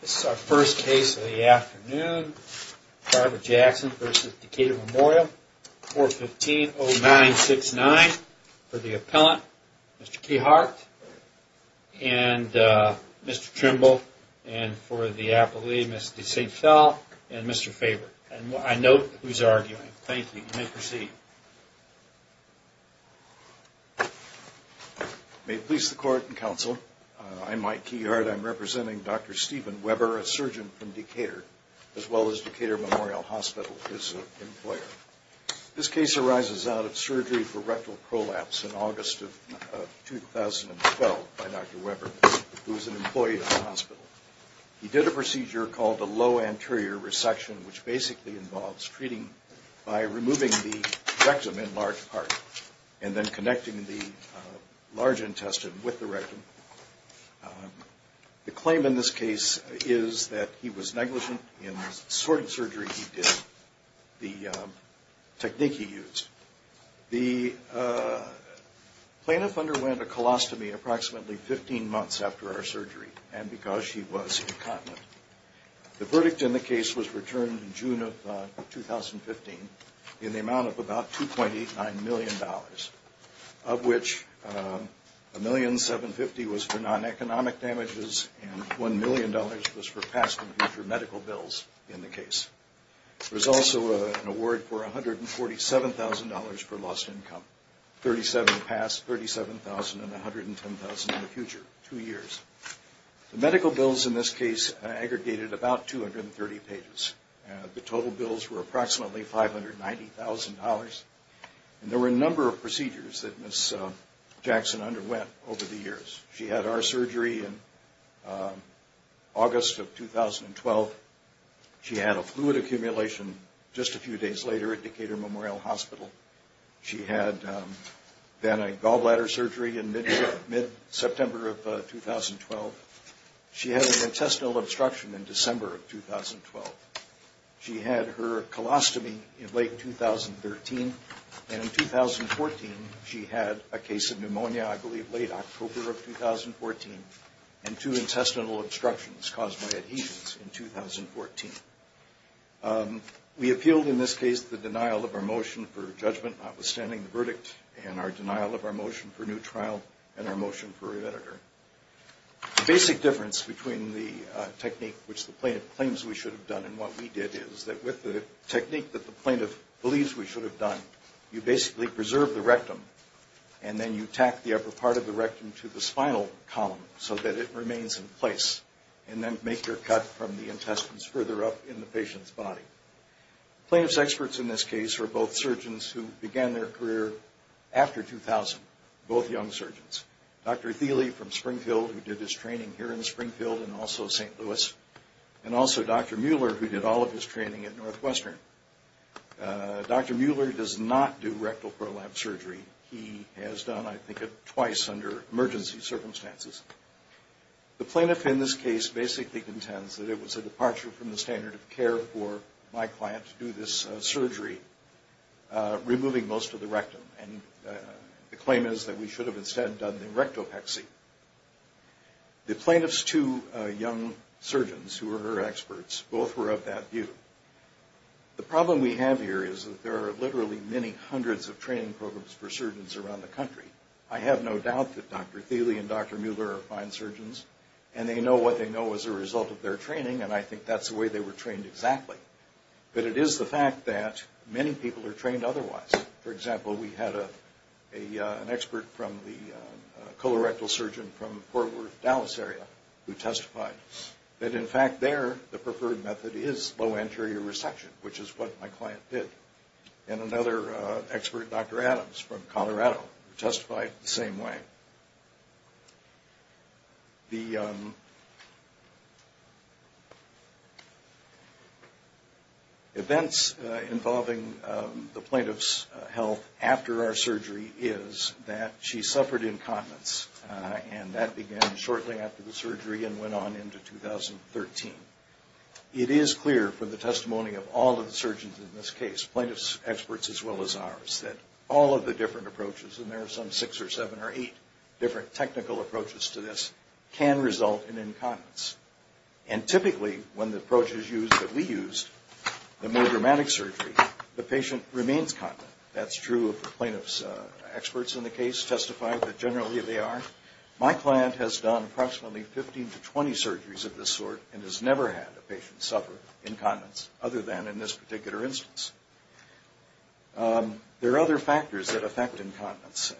This is our first case of the afternoon. Barbara Jackson v. Decatur Memorial. 415-0969 for the appellant, Mr. Keyhart, and Mr. Trimble, and for the appellee, Mr. St. Phil, and Mr. Faber. And I note who's arguing. Thank you. You may proceed. May it please the court and counsel, I'm Mike Keyhart. I'm representing Dr. Stephen Weber, a surgeon from Decatur, as well as Decatur Memorial Hospital, his employer. This case arises out of surgery for rectal prolapse in August of 2012 by Dr. Weber, who's an employee of the hospital. He did a procedure called a low anterior resection, which basically involves treating by removing the rectum in large part and then connecting the large intestine with the rectum. The claim in this case is that he was negligent in the sort of surgery he did, the technique he used. The plaintiff underwent a colostomy approximately 15 months after our surgery, and because she was incontinent. The verdict in the case was returned in June of 2015 in the amount of about $2.89 million, of which $1,750,000 was for non-economic damages and $1 million was for past and future medical bills in the case. There was also an award for $147,000 for lost income, $37,000 past, $37,000 and $110,000 in the future, two years. The medical bills in this case aggregated about 230 pages. The total bills were approximately $590,000, and there were a number of procedures that Ms. Jackson underwent over the years. She had our surgery in August of 2012. She had a fluid accumulation just a few days later at Decatur Memorial Hospital. She had then a gallbladder surgery in mid-September of 2012. She had an intestinal obstruction in December of 2012. She had her colostomy in late 2013, and in 2014 she had a case of pneumonia, I believe late October of 2014, and two intestinal obstructions caused by adhesions in 2014. We appealed in this case the denial of our motion for judgment notwithstanding the verdict and our denial of our motion for new trial and our motion for re-editor. The basic difference between the technique which the plaintiff claims we should have done and what we did is that with the technique that the plaintiff believes we should have done, you basically preserve the rectum and then you tack the upper part of the rectum to the spinal column so that it remains in place and then make your cut from the intestines further up in the patient's body. The plaintiff's experts in this case are both surgeons who began their career after 2000, both young surgeons. Dr. Thiele from Springfield who did his training here in Springfield and also St. Louis, and also Dr. Mueller who did all of his training at Northwestern. Dr. Mueller does not do rectal prolapse surgery. He has done, I think, twice under emergency circumstances. The plaintiff in this case basically contends that it was a departure from the standard of care for my client to do this surgery, removing most of the rectum, and the claim is that we should have instead done the rectopexy. The plaintiff's two young surgeons who are her experts, both were of that view. The problem we have here is that there are literally many hundreds of training programs for surgeons around the country. I have no doubt that Dr. Thiele and Dr. Mueller are fine surgeons and they know what they know as a result of their training and I think that's the way they were trained exactly, but it is the fact that many people are trained otherwise. For example, we had an expert from the colorectal surgeon from Fort Worth, Dallas area, who testified that in fact there the preferred method is low anterior resection, which is what my client did, and another expert, Dr. Adams from Colorado, who testified the same way. The events involving the plaintiff's health after our surgery is that she suffered incontinence and that began shortly after the surgery and went on into 2013. It is clear from the testimony of all of the surgeons in this case, plaintiff's experts as well as ours, that all of the different approaches, and there are some six or seven or eight different technical approaches to this, can result in incontinence. And typically when the approach is used that we used, the more dramatic surgery, the patient remains continent. That's true of the plaintiff's experts in the case who testified that generally they are. My client has done approximately 15 to 20 surgeries of this sort and has never had a patient suffer incontinence other than in this particular instance. There are other factors that affect incontinence.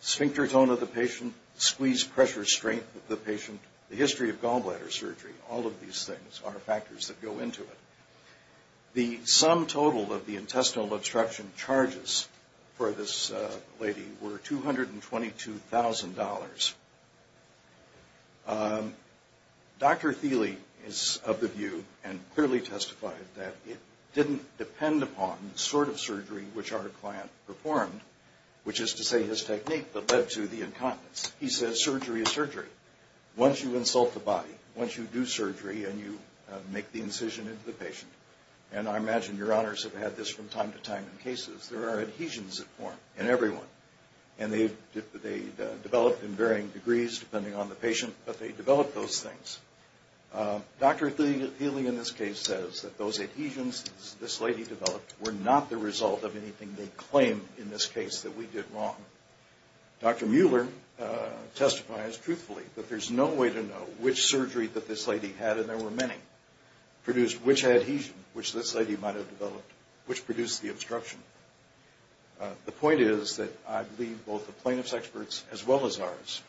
Sphincter tone of the patient, squeeze pressure strength of the patient, the history of gallbladder surgery, all of these things are factors that go into it. The sum total of the intestinal obstruction charges for this lady were $222,000. Dr. Thiele is of the view and clearly testified that it didn't depend upon the sort of surgery which our client performed, which is to say his technique that led to the incontinence. He says surgery is surgery. Once you insult the body, once you do surgery and you make the incision into the patient, and I imagine your honors have had this from time to time in cases, there are adhesions that form in everyone. And they develop in varying degrees depending on the patient, but they develop those things. Dr. Thiele in this case says that those adhesions this lady developed were not the result of anything they claim in this case that we did wrong. Dr. Mueller testifies truthfully that there's no way to know which surgery that this lady had, and there were many, produced which adhesion which this lady might have developed, which produced the obstruction. The point is that I believe both the plaintiff's experts as well as ours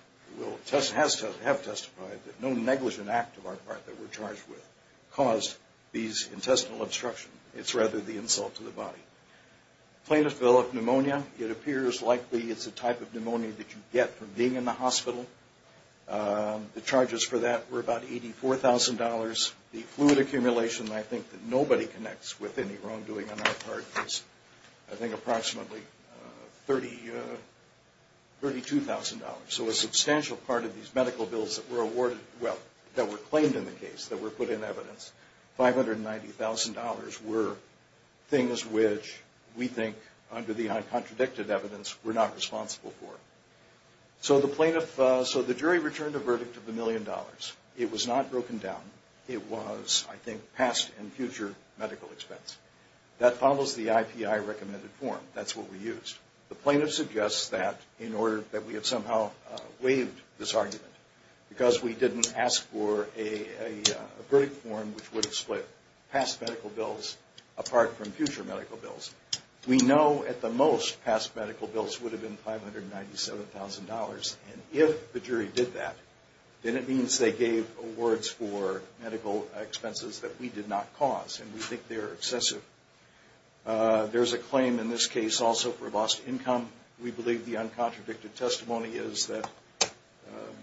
have testified that no negligent act of our part that we're charged with caused these intestinal obstructions. It's rather the insult to the body. Plaintiff developed pneumonia. It appears likely it's a type of pneumonia that you get from being in the hospital. The charges for that were about $84,000. The fluid accumulation I think that nobody connects with any wrongdoing on our part was I think approximately $32,000. So a substantial part of these medical bills that were awarded, well, that were claimed in the case, that were put in evidence, $590,000 were things which we think under the uncontradicted evidence were not responsible for. So the jury returned a verdict of $1 million. It was not broken down. It was, I think, past and future medical expense. That follows the IPI recommended form. That's what we used. The plaintiff suggests that in order that we have somehow waived this argument because we didn't ask for a verdict form which would have split past medical bills apart from future medical bills. We know at the most past medical bills would have been $597,000, and if the jury did that, then it means they gave awards for medical expenses that we did not cause, and we think they're excessive. There's a claim in this case also for lost income. We believe the uncontradicted testimony is that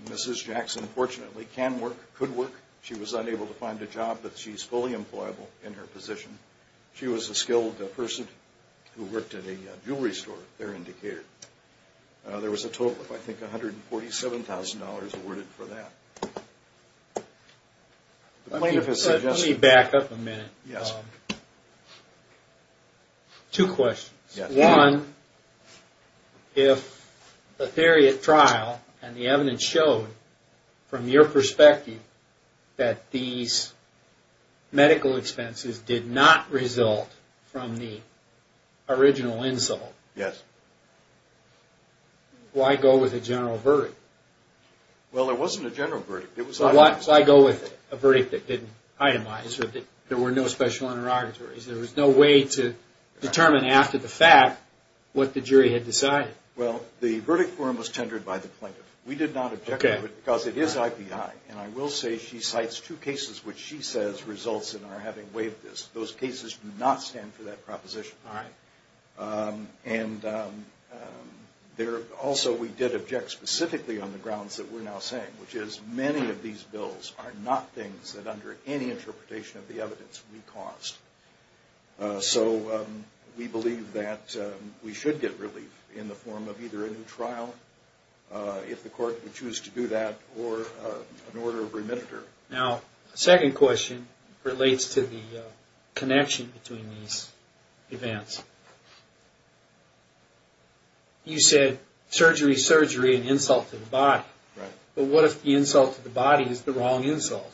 Mrs. Jackson, fortunately, can work, could work. She was unable to find a job, but she's fully employable in her position. She was a skilled person who worked at a jewelry store, their indicator. There was a total of, I think, $147,000 awarded for that. Let me back up a minute. Yes. Two questions. One, if the theory at trial and the evidence showed from your perspective that these medical expenses did not result from the original insult, why go with a general verdict? Well, there wasn't a general verdict. Why go with a verdict that didn't itemize or that there were no special interrogatories? There was no way to determine after the fact what the jury had decided. Well, the verdict form was tendered by the plaintiff. We did not object to it because it is IPI, and I will say she cites two cases which she says results in our having waived this. Those cases do not stand for that proposition. All right. And also we did object specifically on the grounds that we're now saying, which is many of these bills are not things that under any interpretation of the evidence we caused. So we believe that we should get relief in the form of either a new trial, if the court would choose to do that, or an order of remittiture. Now, the second question relates to the connection between these events. You said surgery, surgery and insult to the body. But what if the insult to the body is the wrong insult,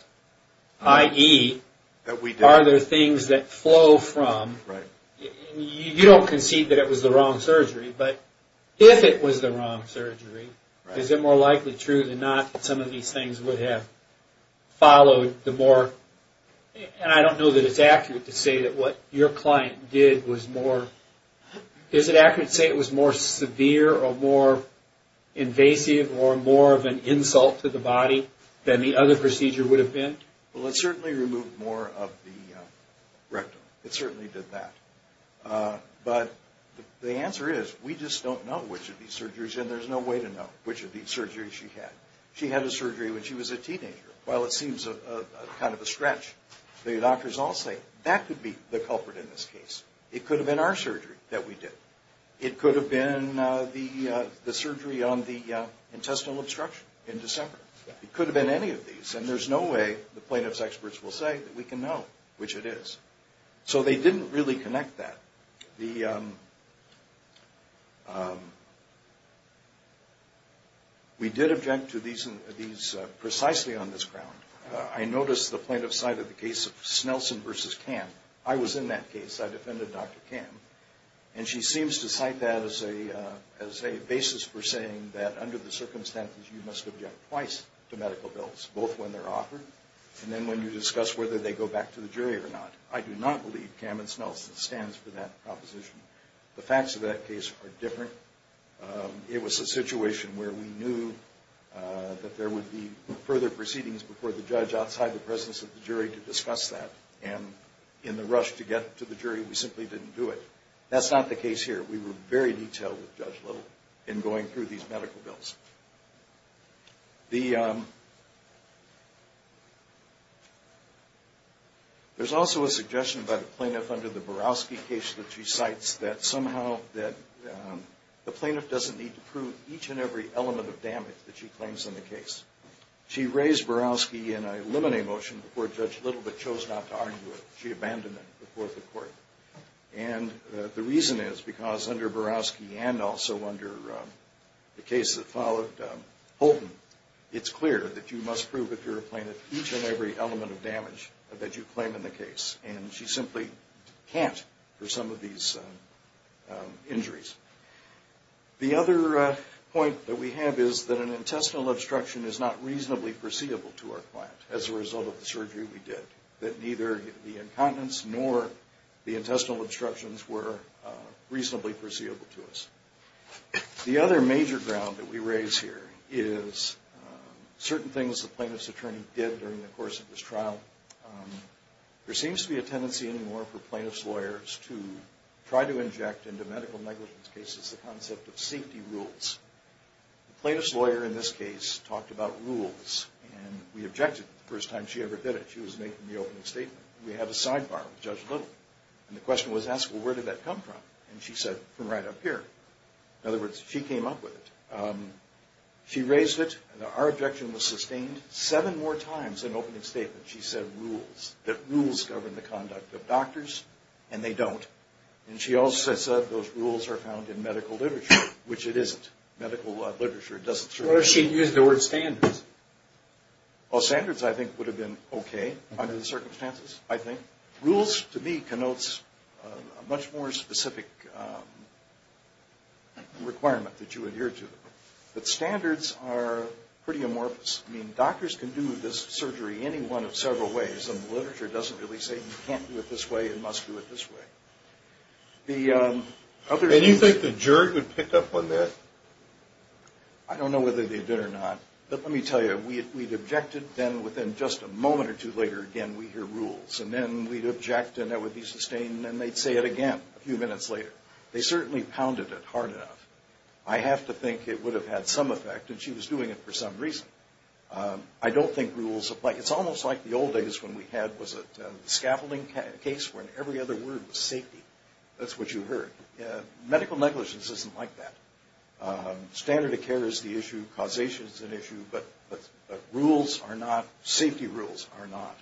i.e., are there things that flow from, you don't concede that it was the wrong surgery, but if it was the wrong surgery, is it more likely true than not that some of these things would have followed the more, and I don't know that it's accurate to say that what your client did was more, is it accurate to say it was more severe or more invasive or more of an insult to the body than the other procedure would have been? Well, it certainly removed more of the rectum. It certainly did that. But the answer is we just don't know which of these surgeries, and there's no way to know which of these surgeries she had. She had a surgery when she was a teenager. While it seems kind of a stretch, the doctors all say that could be the culprit in this case. It could have been our surgery that we did. It could have been the surgery on the intestinal obstruction in December. It could have been any of these, and there's no way the plaintiff's experts will say that we can know which it is. So they didn't really connect that. We did object to these precisely on this ground. I noticed the plaintiff's side of the case of Snelson v. Kahn. I was in that case. I defended Dr. Kahn. And she seems to cite that as a basis for saying that under the circumstances, you must object twice to medical bills, both when they're offered and then when you discuss whether they go back to the jury or not. I do not believe Kahn v. Snelson stands for that proposition. The facts of that case are different. It was a situation where we knew that there would be further proceedings before the judge outside the presence of the jury to discuss that. And in the rush to get to the jury, we simply didn't do it. That's not the case here. We were very detailed with Judge Little in going through these medical bills. There's also a suggestion by the plaintiff under the Borowski case that she cites, that somehow the plaintiff doesn't need to prove each and every element of damage that she claims in the case. She raised Borowski in a limine motion before Judge Little but chose not to argue it. She abandoned it before the court. And the reason is because under Borowski and also under the case that followed Holton, it's clear that you must prove if you're a plaintiff each and every element of damage that you claim in the case. And she simply can't for some of these injuries. The other point that we have is that an intestinal obstruction is not reasonably foreseeable to our client as a result of the surgery we did. That neither the incontinence nor the intestinal obstructions were reasonably foreseeable to us. The other major ground that we raise here is certain things the plaintiff's attorney did during the course of this trial. There seems to be a tendency anymore for plaintiff's lawyers to try to inject into medical negligence cases the concept of safety rules. The plaintiff's lawyer in this case talked about rules. And we objected the first time she ever did it. She was making the opening statement. We have a sidebar with Judge Little. And the question was asked, well, where did that come from? And she said, from right up here. In other words, she came up with it. She raised it. Our objection was sustained seven more times than opening statement. She said rules, that rules govern the conduct of doctors, and they don't. And she also said those rules are found in medical literature, which it isn't. Medical literature doesn't serve any purpose. What if she had used the word standards? Well, standards, I think, would have been okay under the circumstances, I think. Rules, to me, connotes a much more specific requirement that you adhere to. But standards are pretty amorphous. I mean, doctors can do this surgery any one of several ways, and the literature doesn't really say you can't do it this way and must do it this way. And you think the jury would pick up on that? I don't know whether they did or not. But let me tell you, we'd objected. Then within just a moment or two later, again, we'd hear rules. And then we'd object, and that would be sustained, and they'd say it again a few minutes later. They certainly pounded it hard enough. I have to think it would have had some effect, and she was doing it for some reason. I don't think rules apply. It's almost like the old days when we had the scaffolding case where every other word was safety. That's what you heard. Medical negligence isn't like that. Standard of care is the issue. Causation is an issue. But safety rules are not.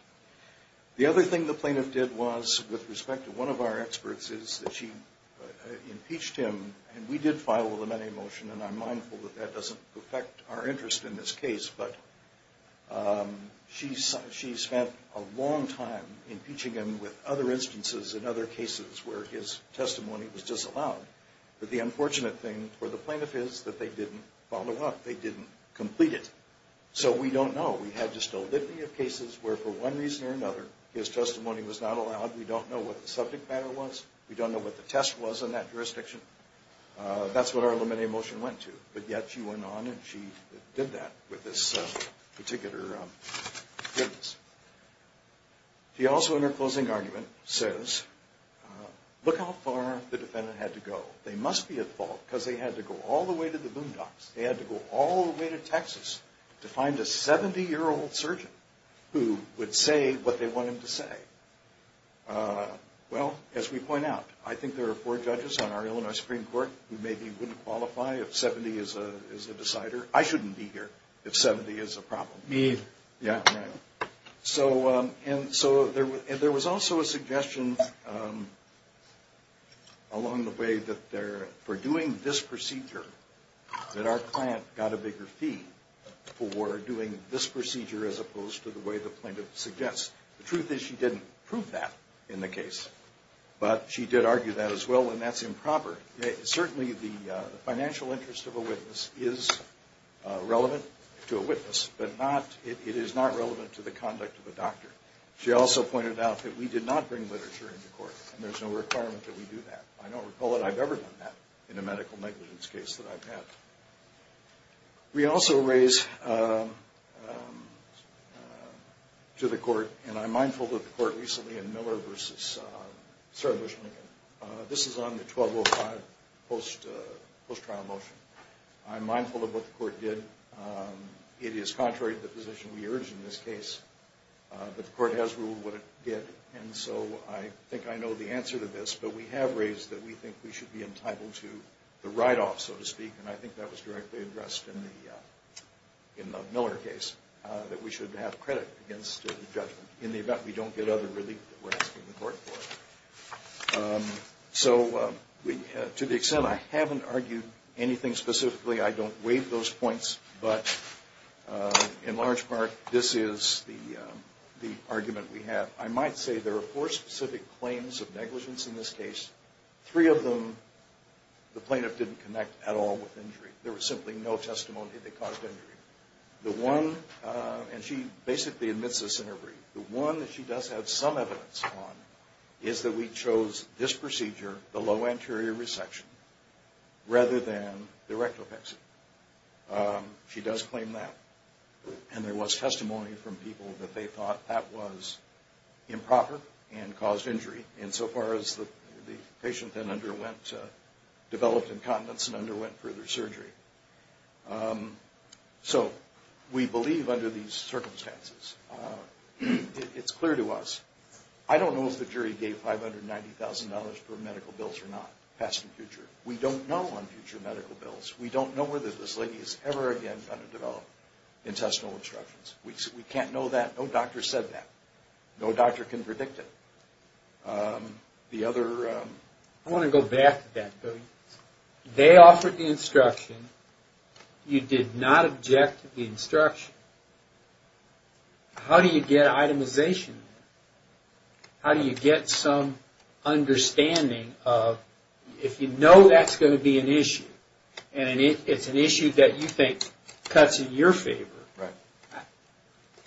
The other thing the plaintiff did was, with respect to one of our experts, is that she impeached him, and we did file a limiting motion, and I'm mindful that that doesn't affect our interest in this case. But she spent a long time impeaching him with other instances and other cases where his testimony was disallowed. But the unfortunate thing for the plaintiff is that they didn't follow up. They didn't complete it. So we don't know. We had just a litany of cases where, for one reason or another, his testimony was not allowed. We don't know what the subject matter was. We don't know what the test was in that jurisdiction. That's what our limiting motion went to. But yet she went on and she did that with this particular witness. She also, in her closing argument, says, look how far the defendant had to go. They must be at fault because they had to go all the way to the boondocks. They had to go all the way to Texas to find a 70-year-old surgeon who would say what they wanted him to say. Well, as we point out, I think there are four judges on our Illinois Supreme Court who maybe wouldn't qualify if 70 is the decider. I shouldn't be here if 70 is a problem. Me either. Yeah. So there was also a suggestion along the way that for doing this procedure that our client got a bigger fee for doing this procedure as opposed to the way the plaintiff suggests. The truth is she didn't prove that in the case, but she did argue that as well, and that's improper. Certainly the financial interest of a witness is relevant to a witness, but it is not relevant to the conduct of a doctor. She also pointed out that we did not bring literature into court, and there's no requirement that we do that. I don't recall that I've ever done that in a medical negligence case that I've had. We also raise to the court, and I'm mindful of the court recently in Miller v. Sarah Bush Lincoln. This is on the 1205 post-trial motion. I'm mindful of what the court did. It is contrary to the position we urge in this case, but the court has ruled what it did, and so I think I know the answer to this, but we have raised that we think we should be entitled to the write-off, so to speak, and I think that was directly addressed in the Miller case, that we should have credit against the judgment in the event we don't get other relief that we're asking the court for. So to the extent I haven't argued anything specifically, I don't weigh those points, but in large part this is the argument we have. I might say there are four specific claims of negligence in this case. Three of them the plaintiff didn't connect at all with injury. There was simply no testimony that caused injury. The one, and she basically admits this in her brief, the one that she does have some evidence on is that we chose this procedure, the low anterior resection, rather than the rectopexy. She does claim that, and there was testimony from people that they thought that was improper and caused injury insofar as the patient then underwent, developed incontinence and underwent further surgery. So we believe under these circumstances. It's clear to us. I don't know if the jury gave $590,000 for medical bills or not, past and future. We don't know on future medical bills. We don't know whether this lady is ever again going to develop intestinal obstructions. We can't know that. No doctor said that. No doctor can predict it. The other... I want to go back to that. They offered the instruction. You did not object to the instruction. How do you get itemization? How do you get some understanding of, if you know that's going to be an issue, and it's an issue that you think cuts in your favor,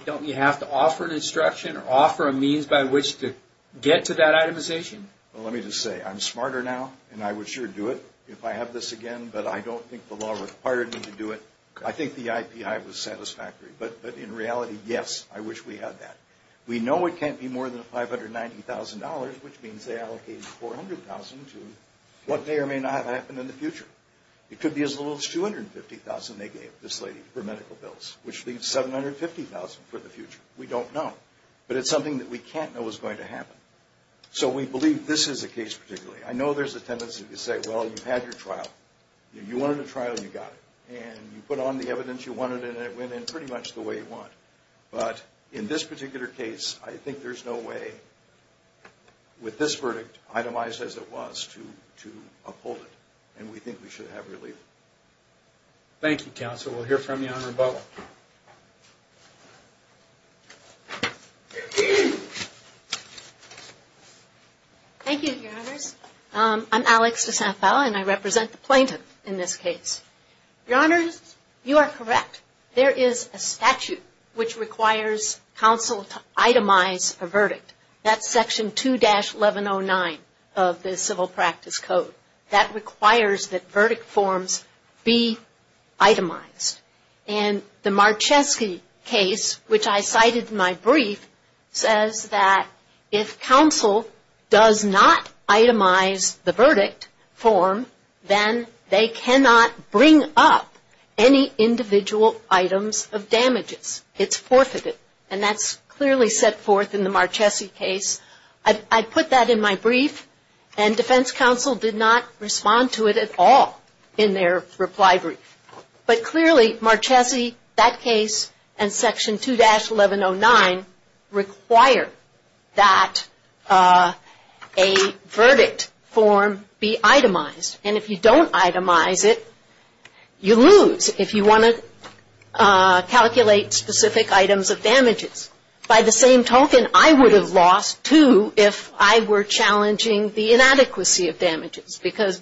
don't you have to offer an instruction or offer a means by which to get to that itemization? Well, let me just say, I'm smarter now, and I would sure do it if I have this again, but I don't think the law required me to do it. I think the IPI was satisfactory, but in reality, yes, I wish we had that. We know it can't be more than $590,000, which means they allocated $400,000 to what may or may not happen in the future. It could be as little as $250,000 they gave this lady for medical bills, which leaves $750,000 for the future. We don't know. But it's something that we can't know is going to happen. So we believe this is the case particularly. I know there's a tendency to say, well, you've had your trial. You wanted a trial, you got it. And you put on the evidence you wanted, and it went in pretty much the way you want. But in this particular case, I think there's no way with this verdict, itemized as it was, to uphold it. And we think we should have relief. Thank you, Counsel. We'll hear from you on rebuttal. Thank you, Your Honors. I'm Alex DeSanto, and I represent the plaintiff in this case. Your Honors, you are correct. There is a statute which requires counsel to itemize a verdict. That's Section 2-1109 of the Civil Practice Code. That requires that verdict forms be itemized. And the Marcheski case, which I cited in my brief, says that if counsel does not itemize the verdict form, then they cannot bring up any individual items of damages. It's forfeited. And that's clearly set forth in the Marcheski case. I put that in my brief, and defense counsel did not respond to it at all in their reply brief. But clearly, Marcheski, that case, and Section 2-1109 require that a verdict form be itemized. And if you don't itemize it, you lose if you want to calculate specific items of damages. By the same token, I would have lost too if I were challenging the inadequacy of damages, because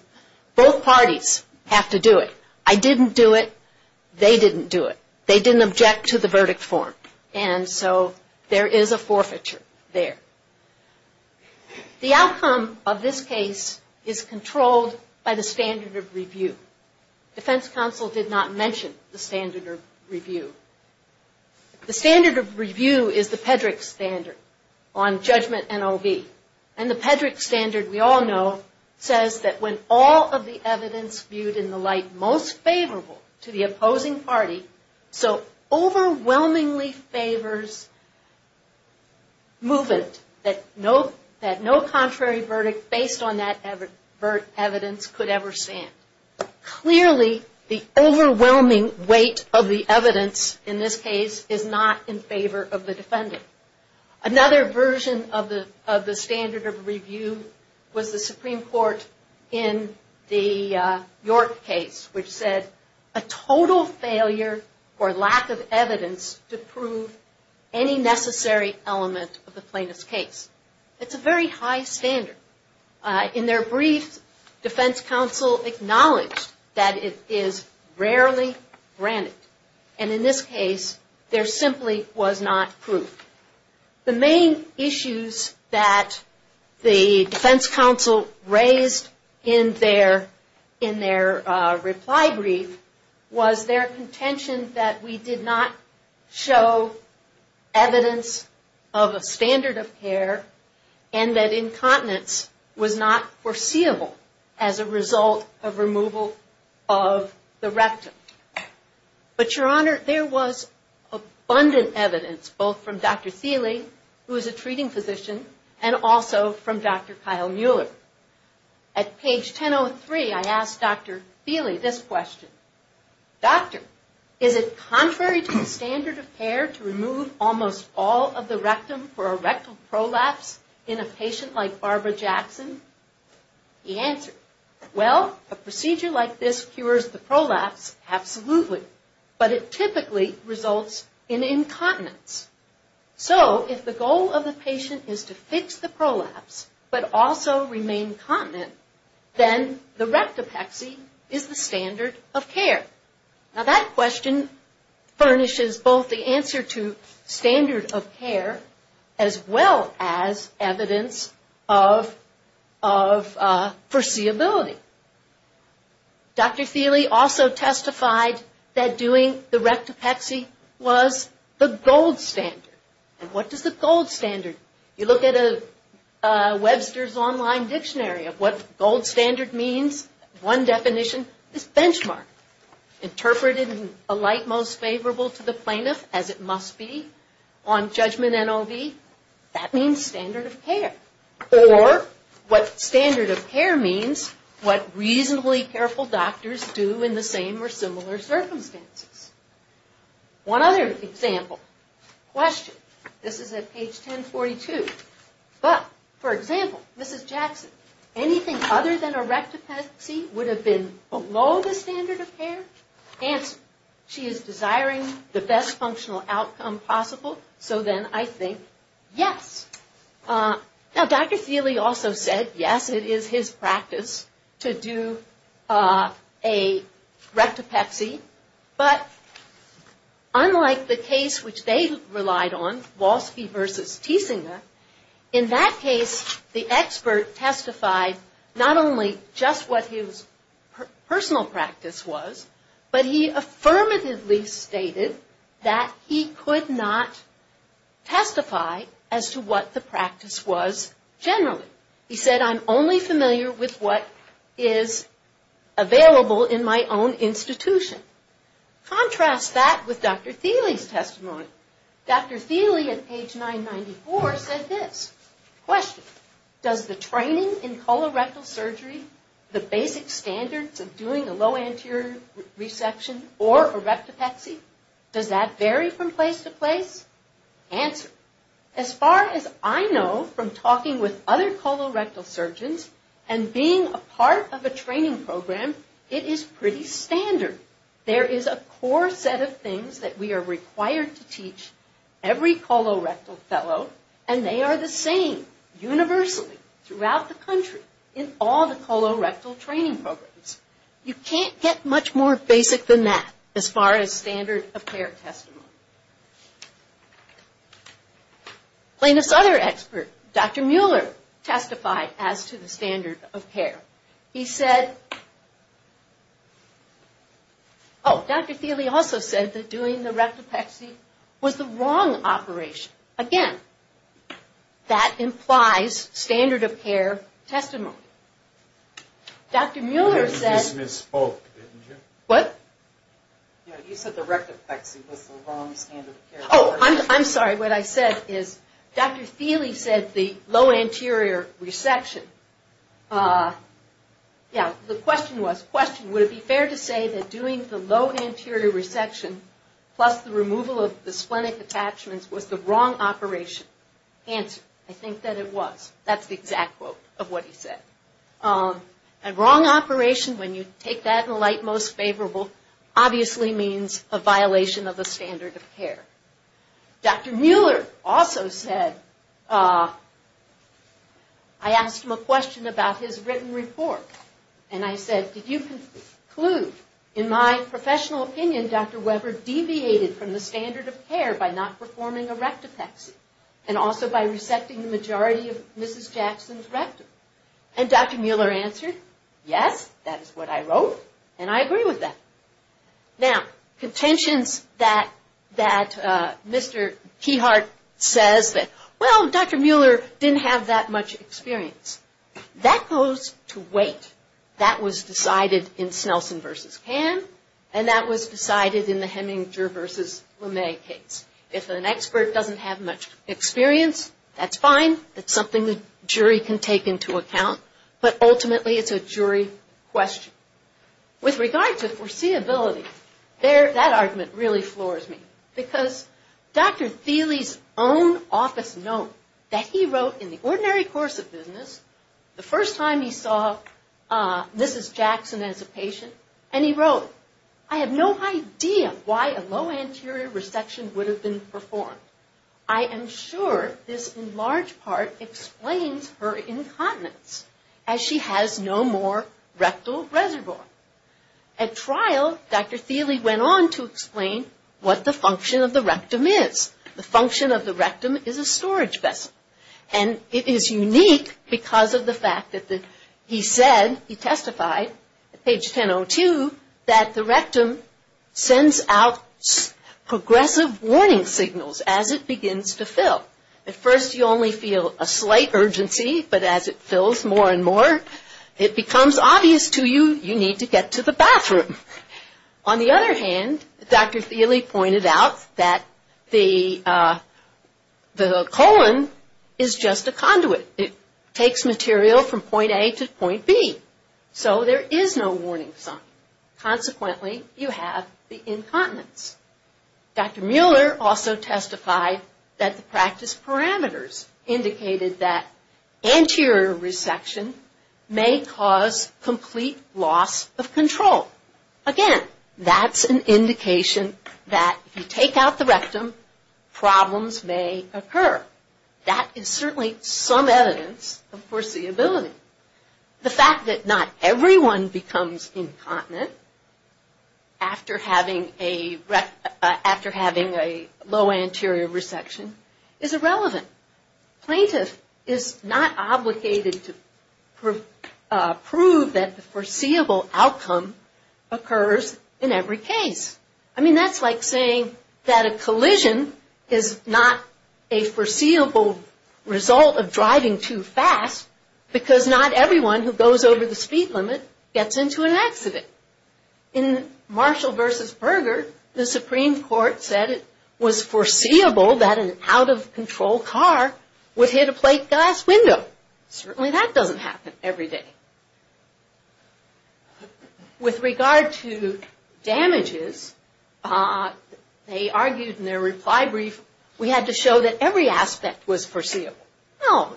both parties have to do it. I didn't do it. They didn't do it. They didn't object to the verdict form. And so there is a forfeiture there. The outcome of this case is controlled by the standard of review. Defense counsel did not mention the standard of review. The standard of review is the Pedrick standard on judgment and OB. And the Pedrick standard, we all know, says that when all of the evidence viewed in the light most favorable to the opposing party, so overwhelmingly favors movement, that no contrary verdict based on that evidence could ever stand. Clearly, the overwhelming weight of the evidence in this case is not in favor of the defendant. Another version of the standard of review was the Supreme Court in the York case, which said a total failure or lack of evidence to prove any necessary element of the plaintiff's case. It's a very high standard. In their brief, defense counsel acknowledged that it is rarely granted. And in this case, there simply was not proof. The main issues that the defense counsel raised in their reply brief was their contention that we did not show evidence of a standard of care and that incontinence was not foreseeable as a result of removal of the rectum. But, Your Honor, there was abundant evidence, both from Dr. Thiele, who is a treating physician, and also from Dr. Kyle Mueller. At page 1003, I asked Dr. Thiele this question. Doctor, is it contrary to the standard of care to remove almost all of the rectum for a rectal prolapse in a patient like Barbara Jackson? He answered, well, a procedure like this cures the prolapse, absolutely, but it typically results in incontinence. So, if the goal of the patient is to fix the prolapse but also remain continent, then the rectopexy is the standard of care. Now, that question furnishes both the answer to standard of care as well as evidence of foreseeability. Dr. Thiele also testified that doing the rectopexy was the gold standard. What is the gold standard? You look at Webster's online dictionary of what gold standard means. One definition is benchmark. Interpreted in a light most favorable to the plaintiff, as it must be on judgment NOV, that means standard of care. Or, what standard of care means, what reasonably careful doctors do in the same or similar circumstances. One other example, question, this is at page 1042. But, for example, Mrs. Jackson, anything other than a rectopexy would have been below the standard of care? Answer, she is desiring the best functional outcome possible, so then I think yes. Now, Dr. Thiele also said, yes, it is his practice to do a rectopexy. But, unlike the case which they relied on, Walsh v. Tiesinger, in that case the expert testified not only just what his personal practice was, but he affirmatively stated that he could not testify as to what the practice was generally. He said, I'm only familiar with what is available in my own institution. Contrast that with Dr. Thiele's testimony. Dr. Thiele at page 994 said this, question, does the training in colorectal surgery, the basic standards of doing a low anterior reception or a rectopexy, does that vary from place to place? Answer, as far as I know from talking with other colorectal surgeons and being a part of a training program, it is pretty standard. There is a core set of things that we are required to teach every colorectal fellow, and they are the same universally throughout the country in all the colorectal training programs. You can't get much more basic than that as far as standard of care testimony. Plain as other experts, Dr. Mueller testified as to the standard of care. He said, oh, Dr. Thiele also said that doing the rectopexy was the wrong operation. Again, that implies standard of care testimony. Dr. Mueller said, what? You said the rectopexy was the wrong standard of care. Oh, I'm sorry. What I said is Dr. Thiele said the low anterior reception. Yeah, the question was, question, would it be fair to say that doing the low anterior reception plus the removal of the splenic attachments was the wrong operation? Answer, I think that it was. That's the exact quote of what he said. A wrong operation, when you take that in the light most favorable, obviously means a violation of the standard of care. Dr. Mueller also said, I asked him a question about his written report, and I said, did you conclude, in my professional opinion, Dr. Weber deviated from the standard of care by not performing a rectopexy, and also by resecting the majority of Mrs. Jackson's rectum? And Dr. Mueller answered, yes, that is what I wrote, and I agree with that. Now, contentions that Mr. Keyhart says that, well, Dr. Mueller didn't have that much experience, that goes to wait. That was decided in Snelson versus Pan, and that was decided in the Heminger versus LeMay case. If an expert doesn't have much experience, that's fine. That's something the jury can take into account, but ultimately it's a jury question. With regard to foreseeability, that argument really floors me, because Dr. Thiele's own office note that he wrote in the ordinary course of business, the first time he saw Mrs. Jackson as a patient, and he wrote, I have no idea why a low anterior resection would have been performed. I am sure this, in large part, explains her incontinence, as she has no more rectal reservoir. At trial, Dr. Thiele went on to explain what the function of the rectum is. The function of the rectum is a storage vessel, and it is unique because of the fact that he said, he testified at page 1002, that the rectum sends out progressive warning signals as it begins to fill. At first, you only feel a slight urgency, but as it fills more and more, it becomes obvious to you, you need to get to the bathroom. On the other hand, Dr. Thiele pointed out that the colon is just a conduit. It takes material from point A to point B, so there is no warning sign. Consequently, you have the incontinence. Dr. Mueller also testified that the practice parameters indicated that anterior resection may cause complete loss of control. Again, that is an indication that if you take out the rectum, problems may occur. That is certainly some evidence of foreseeability. The fact that not everyone becomes incontinent after having a low anterior resection is irrelevant. Plaintiff is not obligated to prove that the foreseeable outcome occurs in every case. I mean, that's like saying that a collision is not a foreseeable result of driving too fast, because not everyone who goes over the speed limit gets into an accident. In Marshall v. Berger, the Supreme Court said it was foreseeable that an out-of-control car would hit a plate glass window. Certainly that doesn't happen every day. With regard to damages, they argued in their reply brief, we had to show that every aspect was foreseeable. No,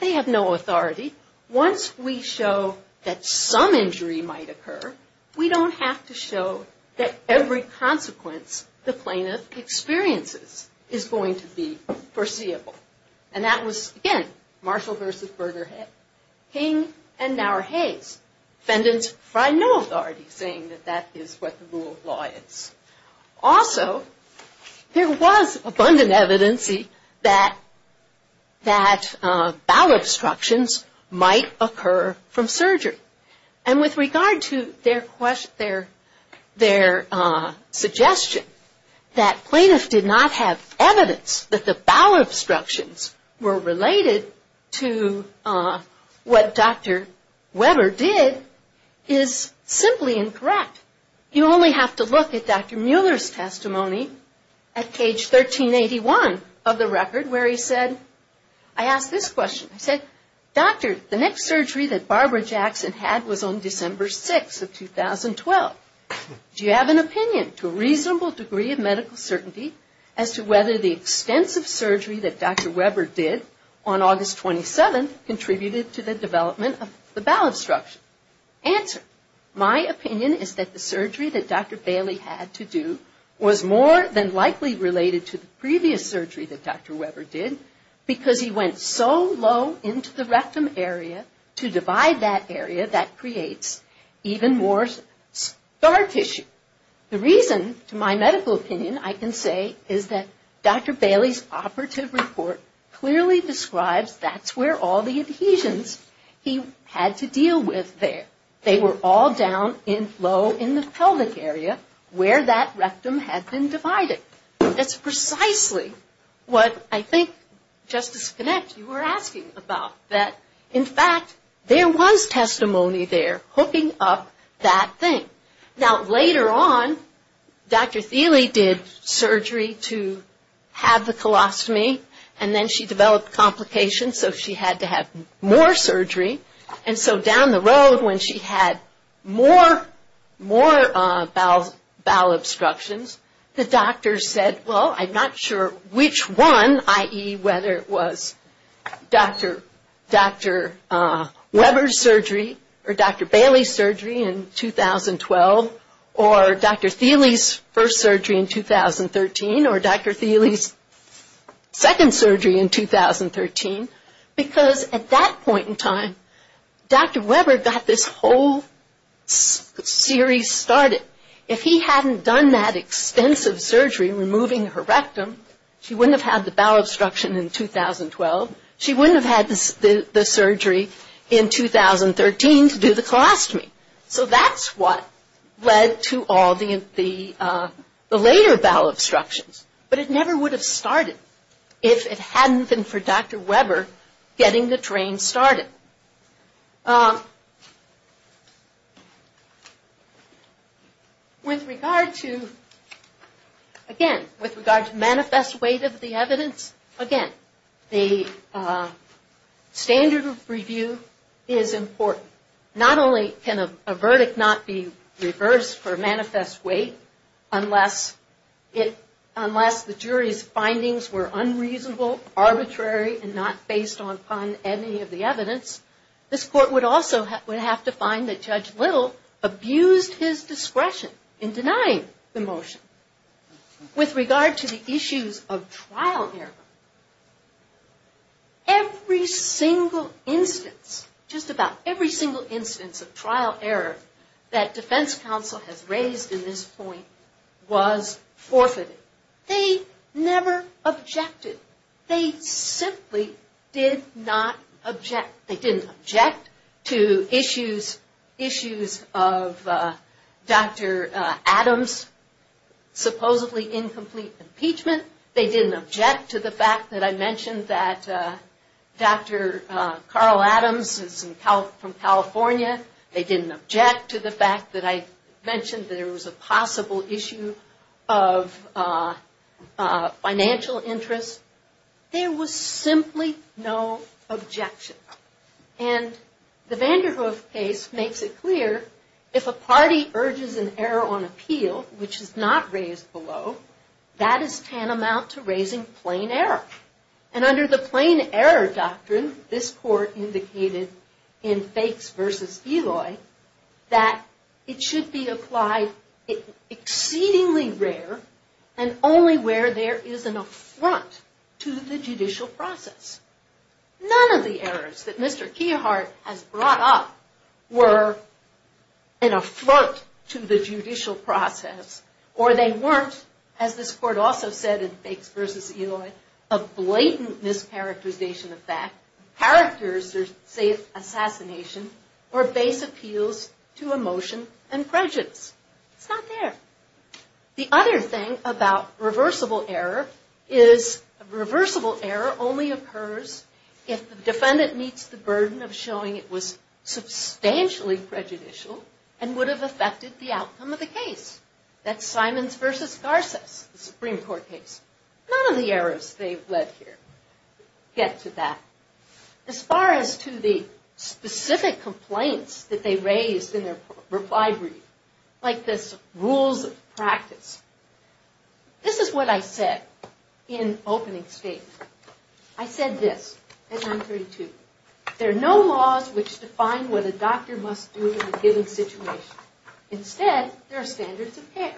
they have no authority. Once we show that some injury might occur, we don't have to show that every consequence the plaintiff experiences is going to be foreseeable. And that was, again, Marshall v. Berger, King and Naur-Hayes. Defendants find no authority saying that that is what the rule of law is. Also, there was abundant evidence that bowel obstructions might occur from surgery. And with regard to their suggestion that plaintiffs did not have evidence that the bowel obstructions were related to what Dr. Weber did, is simply incorrect. You only have to look at Dr. Mueller's testimony at page 1381 of the record, where he said, I asked this question. I said, doctor, the next surgery that Barbara Jackson had was on December 6th of 2012. Do you have an opinion to a reasonable degree of medical certainty as to whether the extensive surgery that Dr. Weber did on August 27th contributed to the development of the bowel obstruction? Answer. My opinion is that the surgery that Dr. Bailey had to do was more than likely related to the previous surgery that Dr. Weber did because he went so low into the rectum area to divide that area that creates even more scar tissue. The reason, to my medical opinion, I can say is that Dr. Bailey's operative report clearly describes that's where all the adhesions he had to deal with there. They were all down low in the pelvic area where that rectum had been divided. That's precisely what I think, Justice Connett, you were asking about. That, in fact, there was testimony there hooking up that thing. Now, later on, Dr. Thiele did surgery to have the colostomy, and then she developed complications, so she had to have more surgery. Down the road, when she had more bowel obstructions, the doctors said, well, I'm not sure which one, i.e., whether it was Dr. Weber's surgery or Dr. Bailey's surgery in 2012 or Dr. Thiele's first surgery in 2013 or Dr. Thiele's second surgery in 2013, because at that point in time, Dr. Weber got this whole series started. If he hadn't done that extensive surgery removing her rectum, she wouldn't have had the bowel obstruction in 2012. She wouldn't have had the surgery in 2013 to do the colostomy. So that's what led to all the later bowel obstructions. But it never would have started if it hadn't been for Dr. Weber getting the train started. With regard to manifest weight of the evidence, again, the standard of review is important. Not only can a verdict not be reversed for manifest weight unless the jury's findings were unreasonable, arbitrary, and not based upon any of the evidence, this court would also have to find that Judge Little abused his discretion in denying the motion. With regard to the issues of trial error, every single instance, just about every single instance of trial error that defense counsel has raised in this point was forfeited. They never objected. They simply did not object. They didn't object to issues of Dr. Adams' supposedly incomplete impeachment. They didn't object to the fact that I mentioned that Dr. Carl Adams is from California. They didn't object to the fact that I mentioned there was a possible issue of financial interest. There was simply no objection. And the Vanderhoof case makes it clear, if a party urges an error on appeal, which is not raised below, that is tantamount to raising plain error. And under the plain error doctrine, this court indicated in Fakes v. Eloy, that it should be applied exceedingly rare and only where there is an affront to the judicial process. None of the errors that Mr. Keyhart has brought up were an affront to the judicial process, or they weren't, as this court also said in Fakes v. Eloy, a blatant mischaracterization of fact, character assassination, or base appeals to emotion and prejudice. It's not there. The other thing about reversible error is reversible error only occurs if the defendant meets the burden of showing it was substantially prejudicial and would have affected the outcome of the case. That's Simons v. Garces, the Supreme Court case. None of the errors they've led here get to that. As far as to the specific complaints that they raised in their reply brief, like this rules of practice, this is what I said in opening statement. I said this at 932. There are no laws which define what a doctor must do in a given situation. Instead, there are standards of care.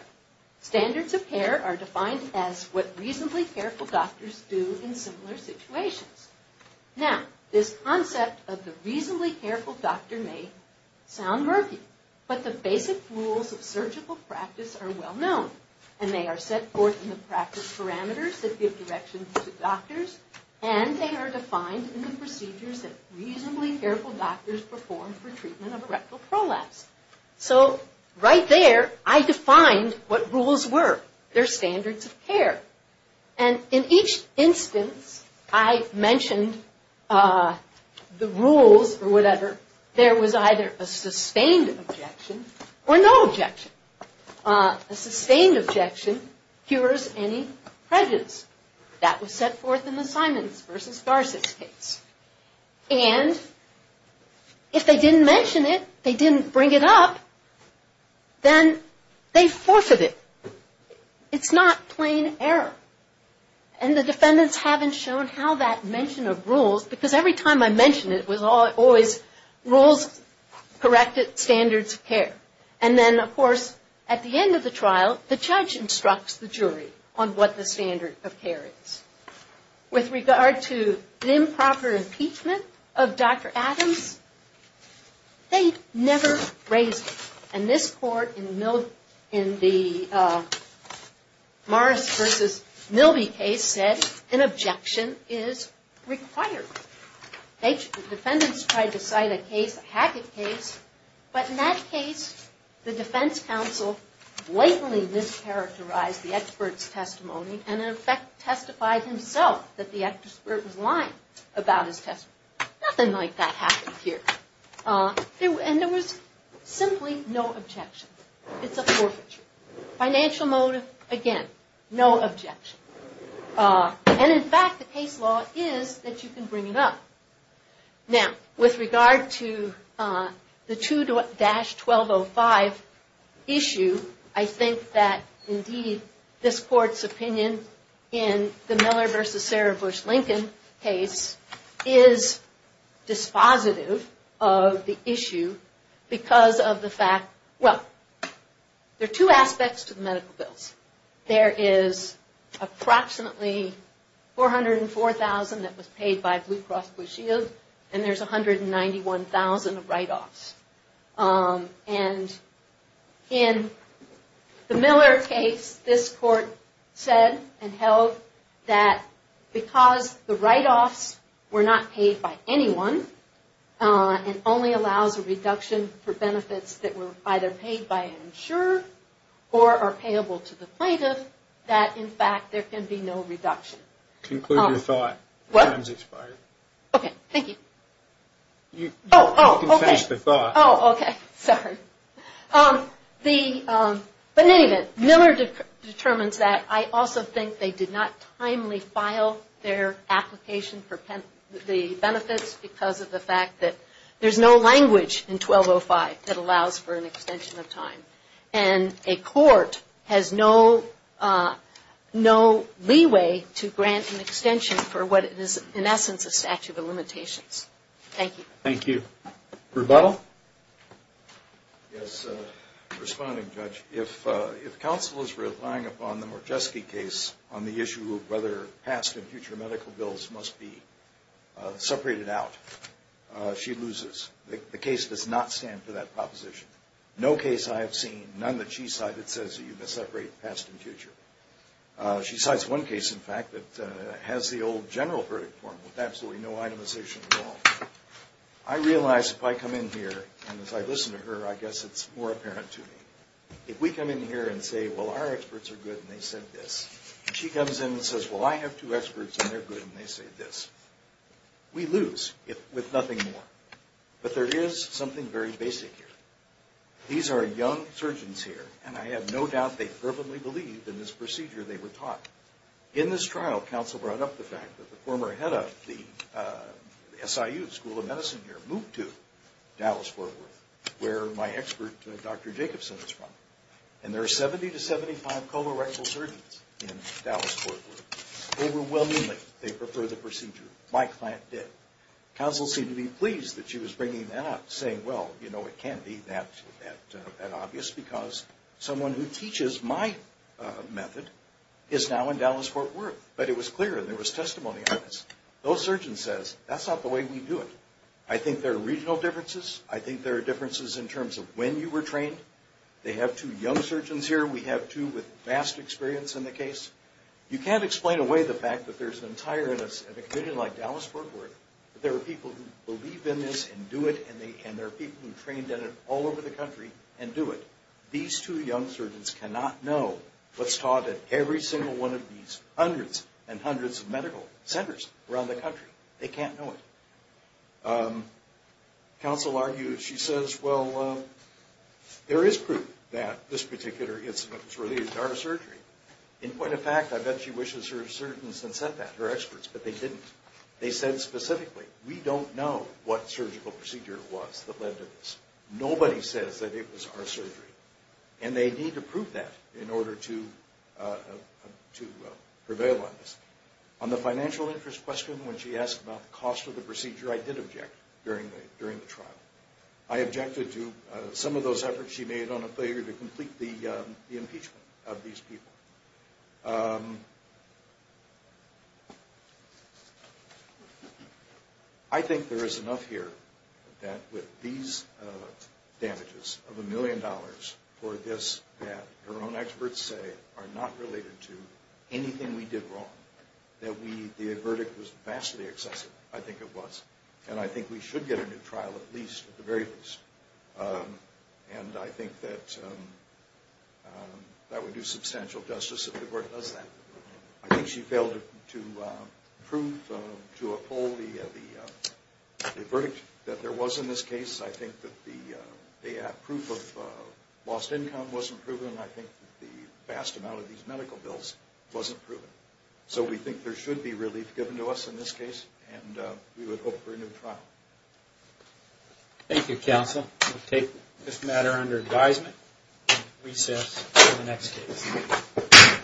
Standards of care are defined as what reasonably careful doctors do in similar situations. Now, this concept of the reasonably careful doctor may sound murky, but the basic rules of surgical practice are well known, and they are set forth in the practice parameters that give direction to doctors, and they are defined in the procedures that reasonably careful doctors perform for treatment of erectile prolapse. So, right there, I defined what rules were. They're standards of care. And in each instance, I mentioned the rules or whatever. There was either a sustained objection or no objection. A sustained objection cures any prejudice. That was set forth in the Simons v. Garces case. And if they didn't mention it, they didn't bring it up, then they forfeited. It's not plain error. And the defendants haven't shown how that mention of rules, because every time I mentioned it, it was always rules corrected, standards of care. And then, of course, at the end of the trial, the judge instructs the jury on what the standard of care is. With regard to improper impeachment of Dr. Adams, they never raised it. And this court, in the Morris v. Milby case, said an objection is required. The defendants tried to cite a case, a Hackett case, but in that case, the defense counsel blatantly mischaracterized the expert's testimony and, in effect, testified himself that the expert was lying about his testimony. Nothing like that happened here. And there was simply no objection. It's a forfeiture. Financial motive, again, no objection. And, in fact, the case law is that you can bring it up. Now, with regard to the 2-1205 issue, I think that, indeed, this court's opinion in the Miller v. Sarah Bush Lincoln case is dispositive of the issue because of the fact, well, there are two aspects to the medical bills. There is approximately $404,000 that was paid by Blue Cross Blue Shield, and there's $191,000 of write-offs. And in the Miller case, this court said and held that because the write-offs were not paid by anyone and only allows a reduction for benefits that were either paid by an insurer or are payable to the plaintiff, that, in fact, there can be no reduction. Conclude your thought. What? Time's expired. Okay, thank you. You can finish the thought. Oh, okay. Sorry. But, in any event, Miller determines that. I also think they did not timely file their application for the benefits because of the fact that there's no language in 1205 that allows for an extension of time. And a court has no leeway to grant an extension for what is, in essence, a statute of limitations. Thank you. Thank you. Rebuttal. Yes. Responding, Judge. If counsel is relying upon the Morjesky case on the issue of whether past and future medical bills must be separated out, she loses. The case does not stand for that proposition. No case I have seen, none that she cited, says you must separate past and future. She cites one case, in fact, that has the old general verdict form with absolutely no itemization at all. I realize if I come in here, and as I listen to her, I guess it's more apparent to me. If we come in here and say, well, our experts are good and they said this, and she comes in and says, well, I have two experts and they're good and they say this, we lose with nothing more. But there is something very basic here. These are young surgeons here, and I have no doubt they fervently believe in this procedure they were taught. In this trial, counsel brought up the fact that the former head of the SIU, School of Medicine here, moved to Dallas-Fort Worth, where my expert, Dr. Jacobson, is from. And there are 70 to 75 colorectal surgeons in Dallas-Fort Worth. Overwhelmingly, they prefer the procedure. My client did. Counsel seemed to be pleased that she was bringing that up, saying, well, you know, it can't be that obvious, because someone who teaches my method is now in Dallas-Fort Worth. But it was clear, and there was testimony on this. Those surgeons said, that's not the way we do it. I think there are regional differences. I think there are differences in terms of when you were trained. They have two young surgeons here. We have two with vast experience in the case. You can't explain away the fact that there's an entire committee like Dallas-Fort Worth. There are people who believe in this and do it, and there are people who trained in it all over the country and do it. These two young surgeons cannot know what's taught at every single one of these hundreds and hundreds of medical centers around the country. They can't know it. Counsel argues, she says, well, there is proof that this particular incident was related to our surgery. In point of fact, I bet she wishes her surgeons had said that, her experts, but they didn't. They said specifically, we don't know what surgical procedure was that led to this. Nobody says that it was our surgery, and they need to prove that in order to prevail on this. On the financial interest question, when she asked about the cost of the procedure, I did object during the trial. I objected to some of those efforts she made on a failure to complete the impeachment of these people. I think there is enough here that with these damages of a million dollars for this that her own experts say are not related to anything we did wrong, that the verdict was vastly excessive, I think it was, and I think we should get a new trial at least, at the very least. And I think that that would do substantial justice if the court does that. I think she failed to prove, to uphold the verdict that there was in this case. I think that the proof of lost income wasn't proven, and I think the vast amount of these medical bills wasn't proven. So we think there should be relief given to us in this case, and we would hope for a new trial. Thank you, counsel. We will take this matter under advisement and recess for the next case.